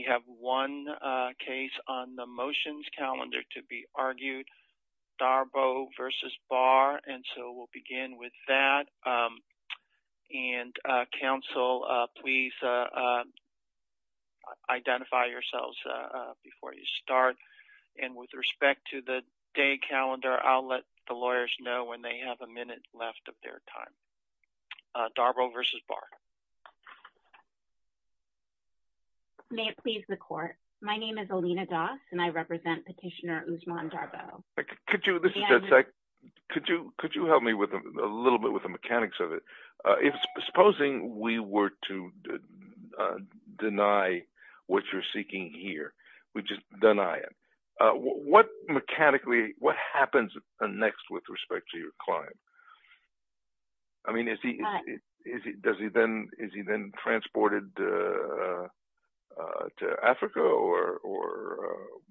We have one case on the motions calendar to be argued, Darboe v. Barr, and so we'll begin with that. And counsel, please identify yourselves before you start. And with respect to the day calendar, I'll let the lawyers know when they have a minute left of their time. Darboe v. Barr. May it please the court, my name is Alina Doss and I represent Petitioner Usman Darboe. Could you, this is Jed Seck, could you help me with a little bit with the mechanics of it? If supposing we were to deny what you're seeking here, we just deny it, what mechanically, what happens next with respect to your client? I mean, is he, is he, does he then, is he then transported to Africa or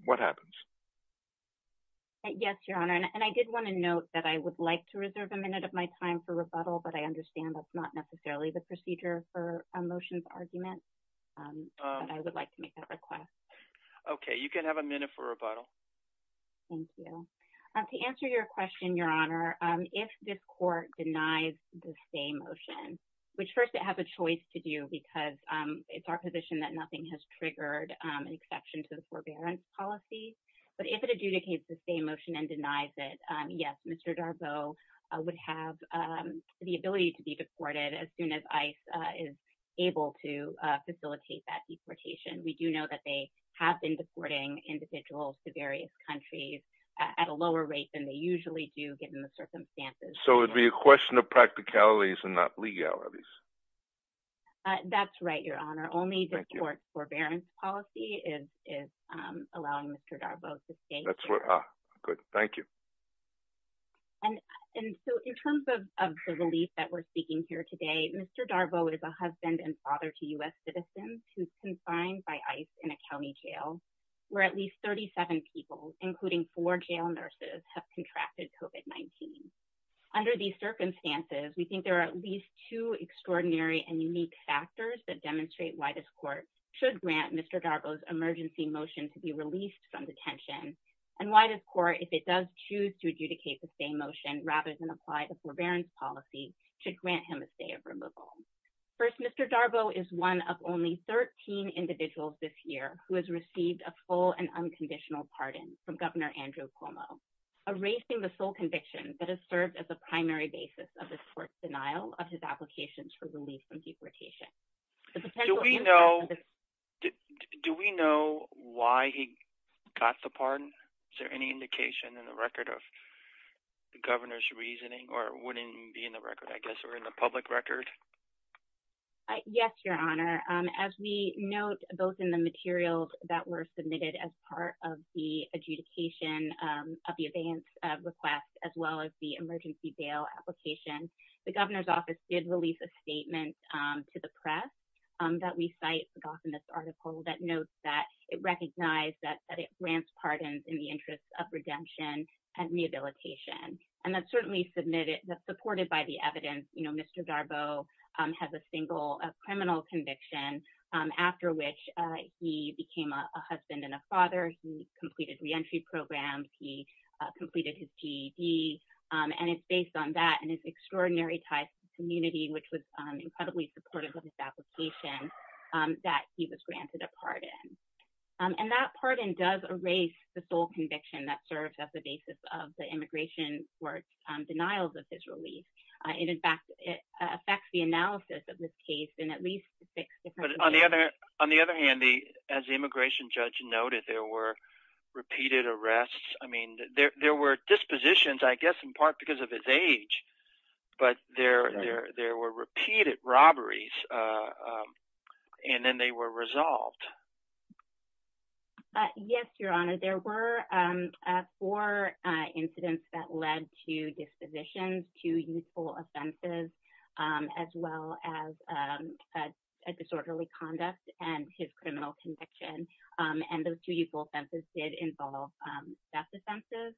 what happens? Yes, Your Honor, and I did want to note that I would like to reserve a minute of my time for rebuttal, but I understand that's not necessarily the procedure for a motions argument. But I would like to make that request. You can have a minute for rebuttal. Thank you. To answer your question, Your Honor, if this court denies the stay motion, which first it has a choice to do because it's our position that nothing has triggered an exception to the forbearance policy. But if it adjudicates the stay motion and denies it, yes, Mr. Darboe would have the ability to be deported as soon as ICE is able to facilitate that deportation. We do know that they have been deporting individuals to various countries at a lower rate than they usually do given the circumstances. So it would be a question of practicalities and not legalities. That's right, Your Honor. Only the court's forbearance policy is, is allowing Mr. Darboe to stay. That's what, ah, good. Thank you. And, and so in terms of the relief that we're seeking here today, Mr. Darboe is a husband and father to U.S. citizens who's confined by ICE in a county jail where at least 37 people, including four jail nurses, have contracted COVID-19. Under these circumstances, we think there are at least two extraordinary and unique factors that demonstrate why this court should grant Mr. Darboe's emergency motion to be released from detention and why this court, if it does choose to adjudicate the stay motion rather than apply the forbearance policy, should grant him a stay of removal. First, Mr. Darboe is one of only 13 individuals this year who has received a full and unconditional pardon from Governor Andrew Cuomo, erasing the sole conviction that has served as a primary basis of this court's denial of his applications for relief from deportation. Do we know, do we know why he got the pardon? Is there any indication in the record of the governor's reasoning or wouldn't be in the public record? Yes, Your Honor. As we note, both in the materials that were submitted as part of the adjudication of the advance request, as well as the emergency bail application, the governor's office did release a statement to the press that we cite in this article that notes that it recognized that it grants pardons in the interest of redemption and rehabilitation. That's certainly supported by the evidence, Mr. Darboe has a single criminal conviction after which he became a husband and a father. He completed reentry programs, he completed his GED, and it's based on that and his extraordinary ties to the community, which was incredibly supportive of his application, that he was granted a pardon. And that pardon does erase the sole conviction that serves as the basis of the immigration court's denials of his release. In fact, it affects the analysis of this case in at least six different ways. On the other hand, as the immigration judge noted, there were repeated arrests. I mean, there were dispositions, I guess in part because of his age, but there were repeated robberies and then they were resolved. Yes, Your Honor, there were four incidents that led to dispositions, two youthful offenses, as well as disorderly conduct and his criminal conviction. And those two youthful offenses did involve theft offenses,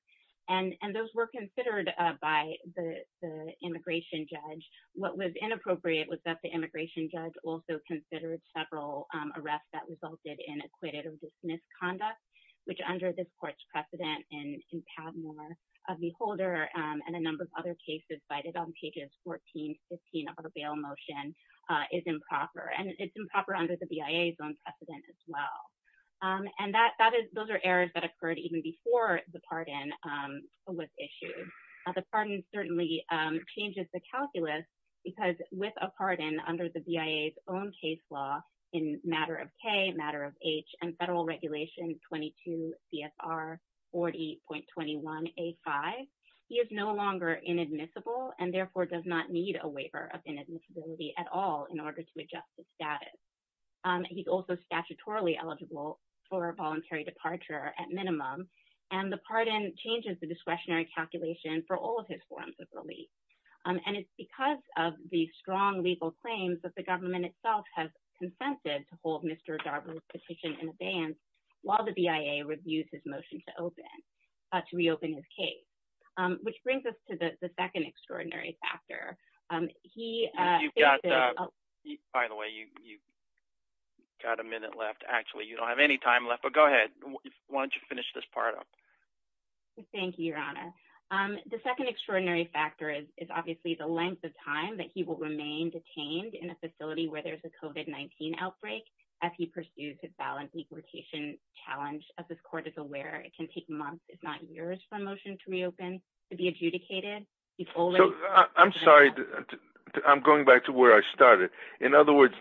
and those were considered by the immigration judge. What was inappropriate was that the immigration judge also considered several arrests that equated with misconduct, which under this court's precedent in Padmore v. Holder and a number of other cases cited on pages 14, 15 of the bail motion is improper. And it's improper under the BIA's own precedent as well. And those are errors that occurred even before the pardon was issued. The pardon certainly changes the calculus because with a pardon under the BIA's own case law, in matter of K, matter of H, and federal regulation 22 CFR 40.21A5, he is no longer inadmissible and therefore does not need a waiver of inadmissibility at all in order to adjust the status. He's also statutorily eligible for voluntary departure at minimum. And the pardon changes the discretionary calculation for all of his forms of relief. And it's because of the strong legal claims that the government itself has consented to hold Mr. Darbar's petition in abeyance while the BIA reviews his motion to open, to reopen his case. Which brings us to the second extraordinary factor. He. By the way, you got a minute left. Actually, you don't have any time left, but go ahead. Why don't you finish this part up? Thank you, Your Honor. The second extraordinary factor is obviously the length of time that he will remain detained in a facility where there's a COVID-19 outbreak as he pursues his balanced deportation challenge. As this court is aware, it can take months, if not years, for a motion to reopen to be adjudicated. I'm sorry. I'm going back to where I started. In other words,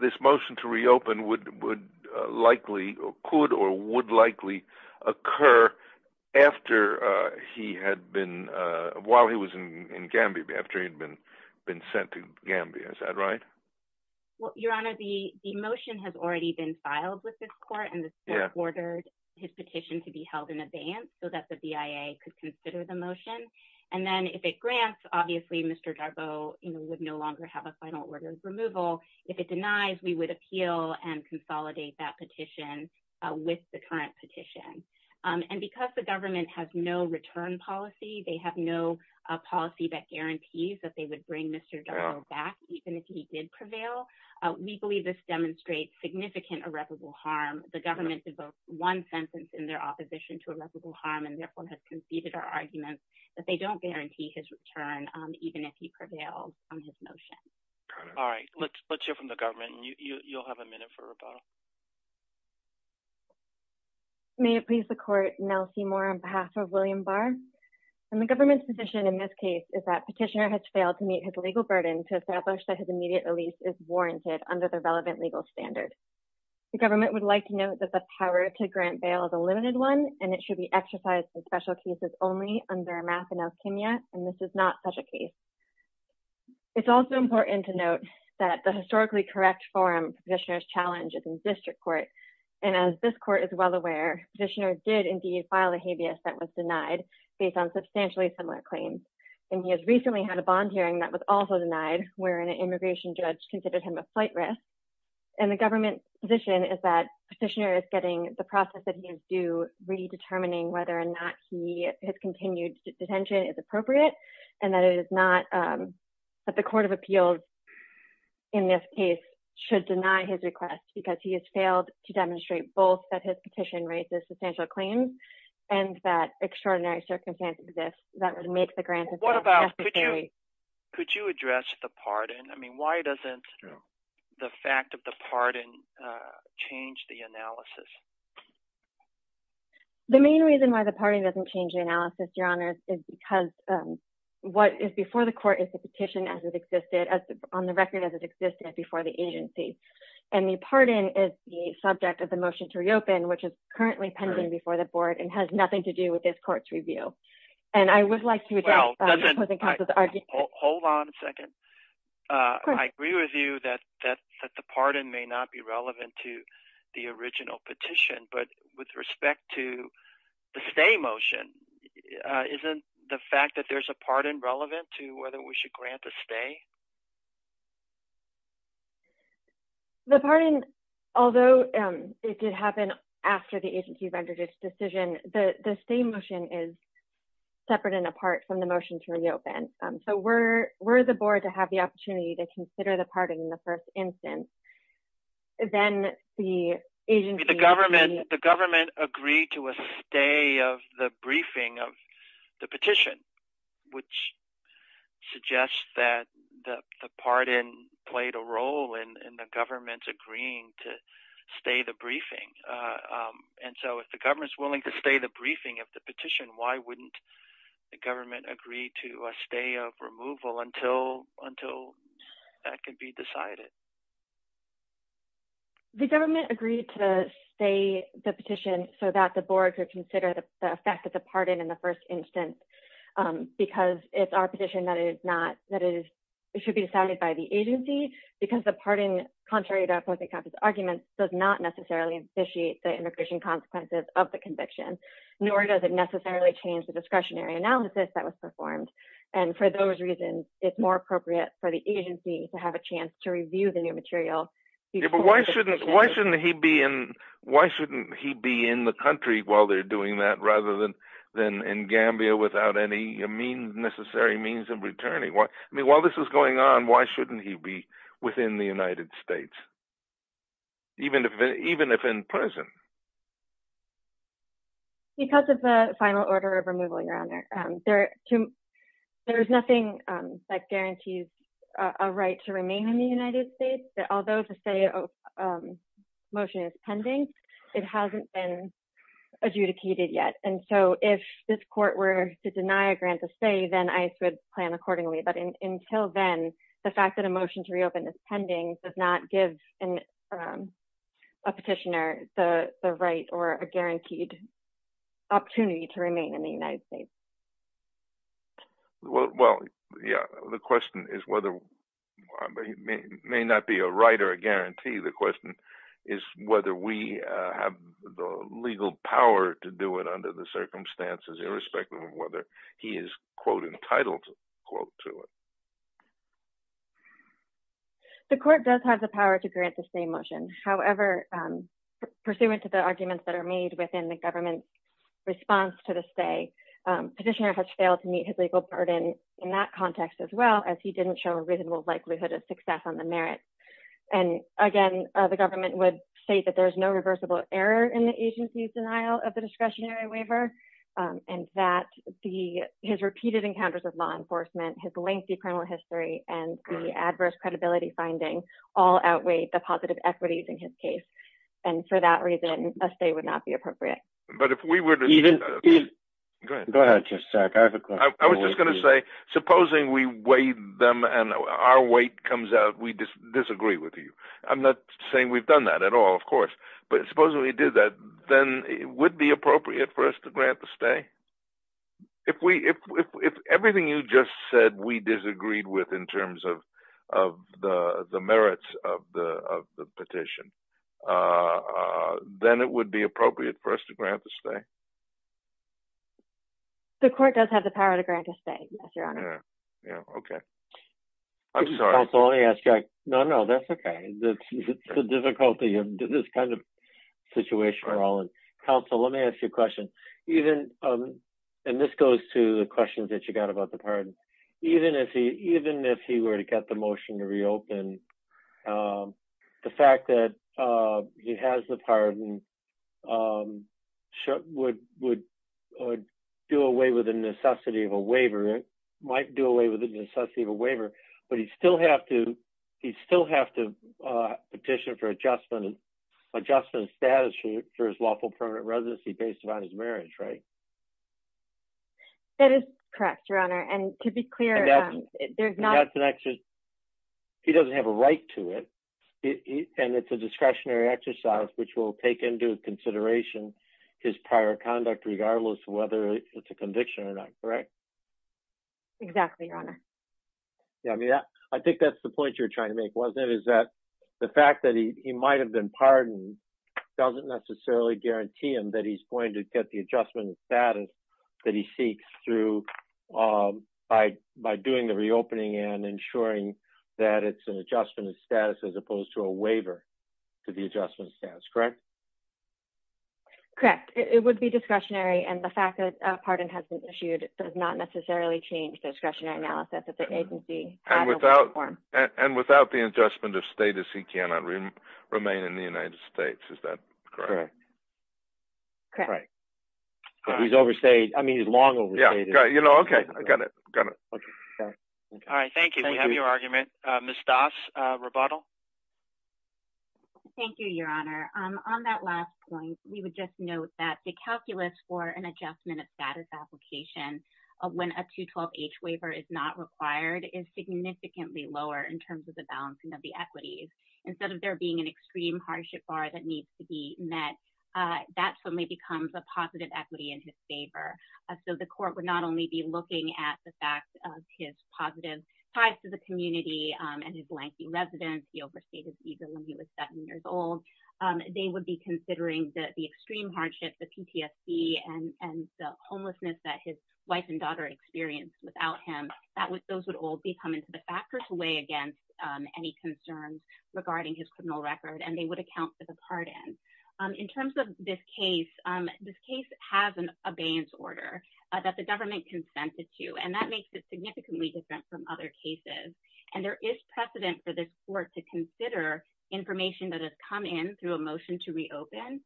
this motion to reopen could or would likely occur after he had been, while he was in Gambia, after he had been sent to Gambia. Is that right? Well, Your Honor, the motion has already been filed with this court. And this court ordered his petition to be held in abeyance so that the BIA could consider the motion. And then if it grants, obviously, Mr. Darbo would no longer have a final order of removal. If it denies, we would appeal and consolidate that petition with the current petition. And because the government has no return policy, they have no policy that guarantees that they would bring Mr. Darbo back, even if he did prevail. Legally, this demonstrates significant irreparable harm. The government did vote one sentence in their opposition to irreparable harm and therefore has conceded our argument that they don't guarantee his return, even if he prevailed on his motion. All right. Let's hear from the government. You'll have a minute for rebuttal. May it please the court, Nell Seymour on behalf of William Barr. The government's position in this case is that petitioner has failed to meet his legal burden to establish that his immediate release is warranted under the relevant legal standard. The government would like to note that the power to grant bail is a limited one, and it should be exercised in special cases only under a math and alchemy. And this is not such a case. It's also important to note that the historically correct forum petitioner's challenge is in district court. And as this court is well aware, petitioner did indeed file a habeas that was denied based on substantially similar claims. And he has recently had a bond hearing that was also denied where an immigration judge considered him a flight risk. And the government's position is that petitioner is getting the process that he is due redetermining whether or not he has continued detention is appropriate and that it is not that the Court of Appeals in this case should deny his request because he has failed to demonstrate both that his petition raises substantial claims and that extraordinary circumstances exist that would make the grant. Could you address the pardon? I mean, why doesn't the fact of the pardon change the analysis? The main reason why the party doesn't change the analysis, your honor, is because what is before the court is the petition as it existed on the record as it existed before the agency and the pardon is the subject of the motion to reopen, which is currently pending before the board and has nothing to do with this court's review. And I would like to hold on a second. I agree with you that the pardon may not be relevant to the original petition, but with respect to the stay motion, isn't the fact that there's a pardon relevant to whether we should grant a stay? The pardon, although it did happen after the agency rendered its decision, the stay motion is separate and apart from the motion to reopen. So we're we're the board to have the opportunity to consider the pardon in the first instance. Then the agency, the government, the government agreed to a stay of the briefing of the petition, which suggests that the pardon played a role in the government's agreeing to stay the briefing. And so if the government is willing to stay the briefing of the petition, why wouldn't the government agree to a stay of removal until until that can be decided? The government agreed to stay the petition so that the board could consider the effect of the pardon in the first instance, because it's our position that it is not that it is it should be decided by the agency, because the pardon, contrary to the argument, does not necessarily initiate the immigration consequences of the conviction, nor does it necessarily change the discretionary analysis that was performed. And for those reasons, it's more appropriate for the agency to have a chance to review the new material. Why shouldn't why shouldn't he be in? Why shouldn't he be in the country while they're doing that rather than than in Gambia without any mean necessary means of returning? I mean, while this is going on, why shouldn't he be within the United States? Even if even if in prison. Because of the final order of removal, Your Honor, there to there's nothing that guarantees a right to remain in the United States that although the state of motion is pending, it hasn't been adjudicated yet. And so if this court were to deny a grant to stay, then I would plan accordingly. But until then, the fact that a motion to reopen this pending does not give a petitioner the right or a guaranteed opportunity to remain in the United States. Well, yeah, the question is whether it may not be a right or a guarantee. The question is whether we have the legal power to do it under the circumstances, irrespective of whether he is, quote, entitled to quote to it. The court does have the power to grant the same motion. However, pursuant to the arguments that are made within the government response to the state petitioner has failed to meet his legal burden in that context as well as he didn't show a reasonable likelihood of success on the merit. And again, the government would say that there is no reversible error in the agency's denial of the discretionary waiver and that the his repeated encounters of law enforcement, his lengthy criminal history and the adverse credibility finding all outweigh the positive equities in his case. And for that reason, a stay would not be appropriate. But if we were to go ahead, I was just going to say, supposing we weighed them and our weight comes out, we disagree with you. I'm not saying we've done that at all, of course. But supposing we did that, then it would be appropriate for us to grant the stay. If we if everything you just said, we disagreed with in terms of of the merits of the of the petition, then it would be appropriate for us to grant the stay. The court does have the power to grant a stay. Yes, Your Honor. Yeah, OK. I'm sorry. That's all I ask. Yeah, no, no, that's OK. That's the difficulty of this kind of situation. Counsel, let me ask you a question. Even and this goes to the questions that you got about the pardon, even if he even if he were to get the motion to reopen, the fact that he has the pardon would would do away with the necessity of a waiver. It might do away with the necessity of a waiver, but you still have to you still have to petition for adjustment and adjustment status for his lawful permanent residency based on his marriage, right? That is correct, Your Honor. And to be clear, there's not connection. He doesn't have a right to it. And it's a discretionary exercise which will take into consideration his prior conduct, regardless of whether it's a conviction or not. Correct. Exactly, Your Honor. Yeah, I mean, I think that's the point you're trying to make. Is that the fact that he might have been pardoned doesn't necessarily guarantee him that he's going to get the adjustment status that he seeks through by by doing the reopening and ensuring that it's an adjustment of status as opposed to a waiver to the adjustment status, correct? Correct. It would be discretionary. And the fact that a pardon has been issued does not necessarily change discretionary analysis at the agency. And without the adjustment of status, he cannot remain in the United States. Is that correct? Correct. He's overstayed. I mean, he's long overstayed. You know, OK, I got it. All right. Thank you. We have your argument. Ms. Das, rebuttal. Thank you, Your Honor. On that last point, we would just note that the calculus for an adjustment of status application when a 212H waiver is not required is significantly lower in terms of the balancing of the equities. Instead of there being an extreme hardship bar that needs to be met, that's when it becomes a positive equity in his favor. So the court would not only be looking at the fact of his positive ties to the community and his lengthy residence, he overstayed his visa when he was seven years old. They would be considering the extreme hardship, the PTSD, and the homelessness that his wife and daughter experienced without him. Those would all be coming to the factors away against any concerns regarding his criminal record, and they would account for the pardon. In terms of this case, this case has an abeyance order that the government consented to, and that makes it significantly different from other cases. And there is precedent for this court to consider information that has come in through a motion to reopen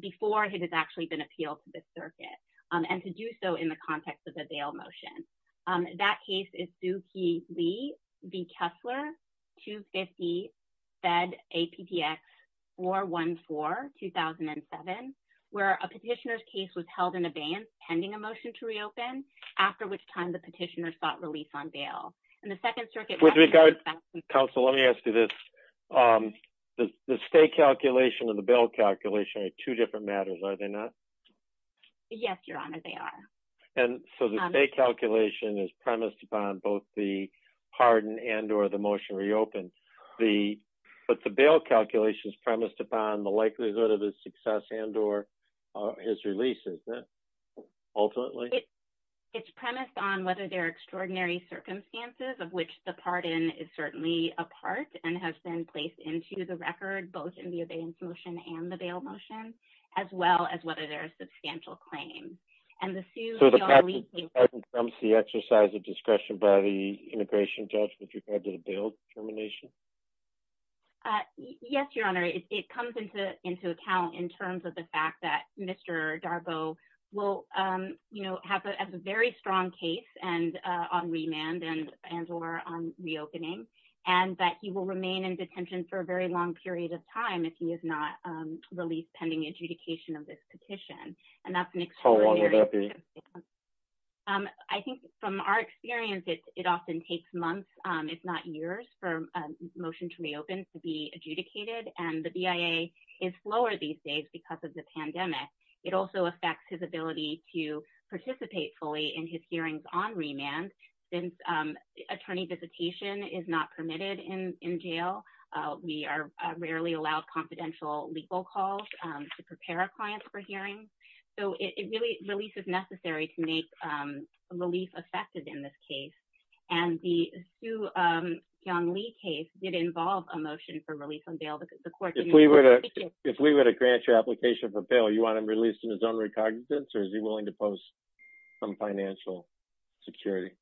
before it has actually been appealed to the circuit, and to do so in the context of a bail motion. That case is Sukey Lee v. Kessler, 250 Fed APTX 414-2007, where a petitioner's case was held in abeyance pending a motion to reopen, after which time the petitioner sought release on bail. And the Second Circuit- With regard, counsel, let me ask you this. The stay calculation and the bail calculation are two different matters, are they not? Yes, Your Honor, they are. And so the stay calculation is premised upon both the pardon and or the motion reopened. But the bail calculation is premised upon the likelihood of his success and or his release, isn't it, ultimately? It's premised on whether there are extraordinary circumstances of which the pardon is certainly a part and has been placed into the record, both in the abeyance motion and the bail motion, as well as whether there are substantial claims. And the Sukey- So the pardon comes the exercise of discretion by the integration judge with regard to the bail determination? Yes, Your Honor, it comes into account in terms of the fact that Mr. Darbo will, you know, have a very strong case and on remand and or on reopening, and that he will remain in detention for a very long period of time if he is not released pending adjudication of this petition. And that's an extraordinary- How long would that be? I think from our experience, it often takes months, if not years, for a motion to reopen to be adjudicated. And the BIA is slower these days because of the pandemic. It also affects his ability to participate fully in his hearings on remand. Since attorney visitation is not permitted in jail, we are rarely allowed confidential legal calls to prepare our clients for hearings. So it really- release is necessary to make relief effective in this case. And the Su Kyung Lee case did involve a motion for release on bail because the court- If we were to grant your application for bail, you want him released in his own recognizance, or is he willing to post some financial security?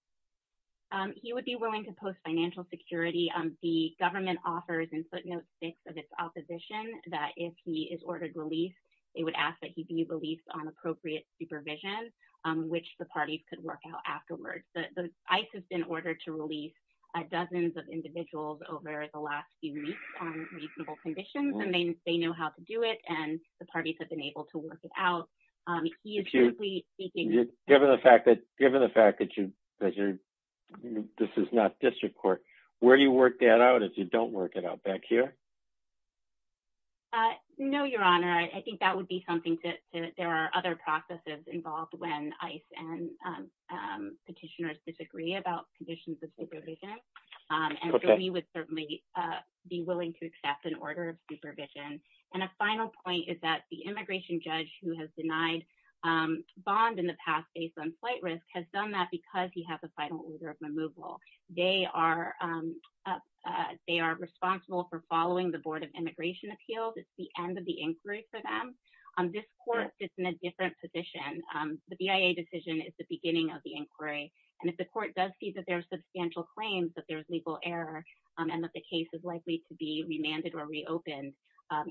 He would be willing to post financial security. The government offers in footnote six of its opposition that if he is ordered release, they would ask that he be released on appropriate supervision, which the parties could work out afterwards. The ICE has been ordered to release dozens of individuals over the last few weeks on reasonable conditions, and they know how to do it. And the parties have been able to work it out. Given the fact that you- this is not district court, where do you work that out if you don't work it out? Back here? No, your honor. I think that would be something to- there are other processes involved when ICE and petitioners disagree about conditions of supervision. And we would certainly be willing to accept an order of supervision. And a final point is that the immigration judge who has denied bond in the past based on flight risk has done that because he has a final order of removal. They are responsible for following the Board of Immigration Appeals. It's the end of the inquiry for them. This court sits in a different position. The BIA decision is the beginning of the inquiry. And if the court does see that there are substantial claims that there's legal error and that the case is likely to be remanded or reopened,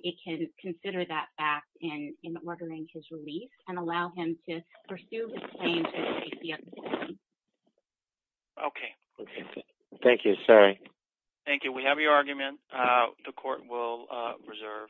it can consider that back in ordering his release and allow him to pursue his claim to the safety of the citizen. Okay. Thank you. Sorry. Thank you. We have your argument. The court will reserve decision.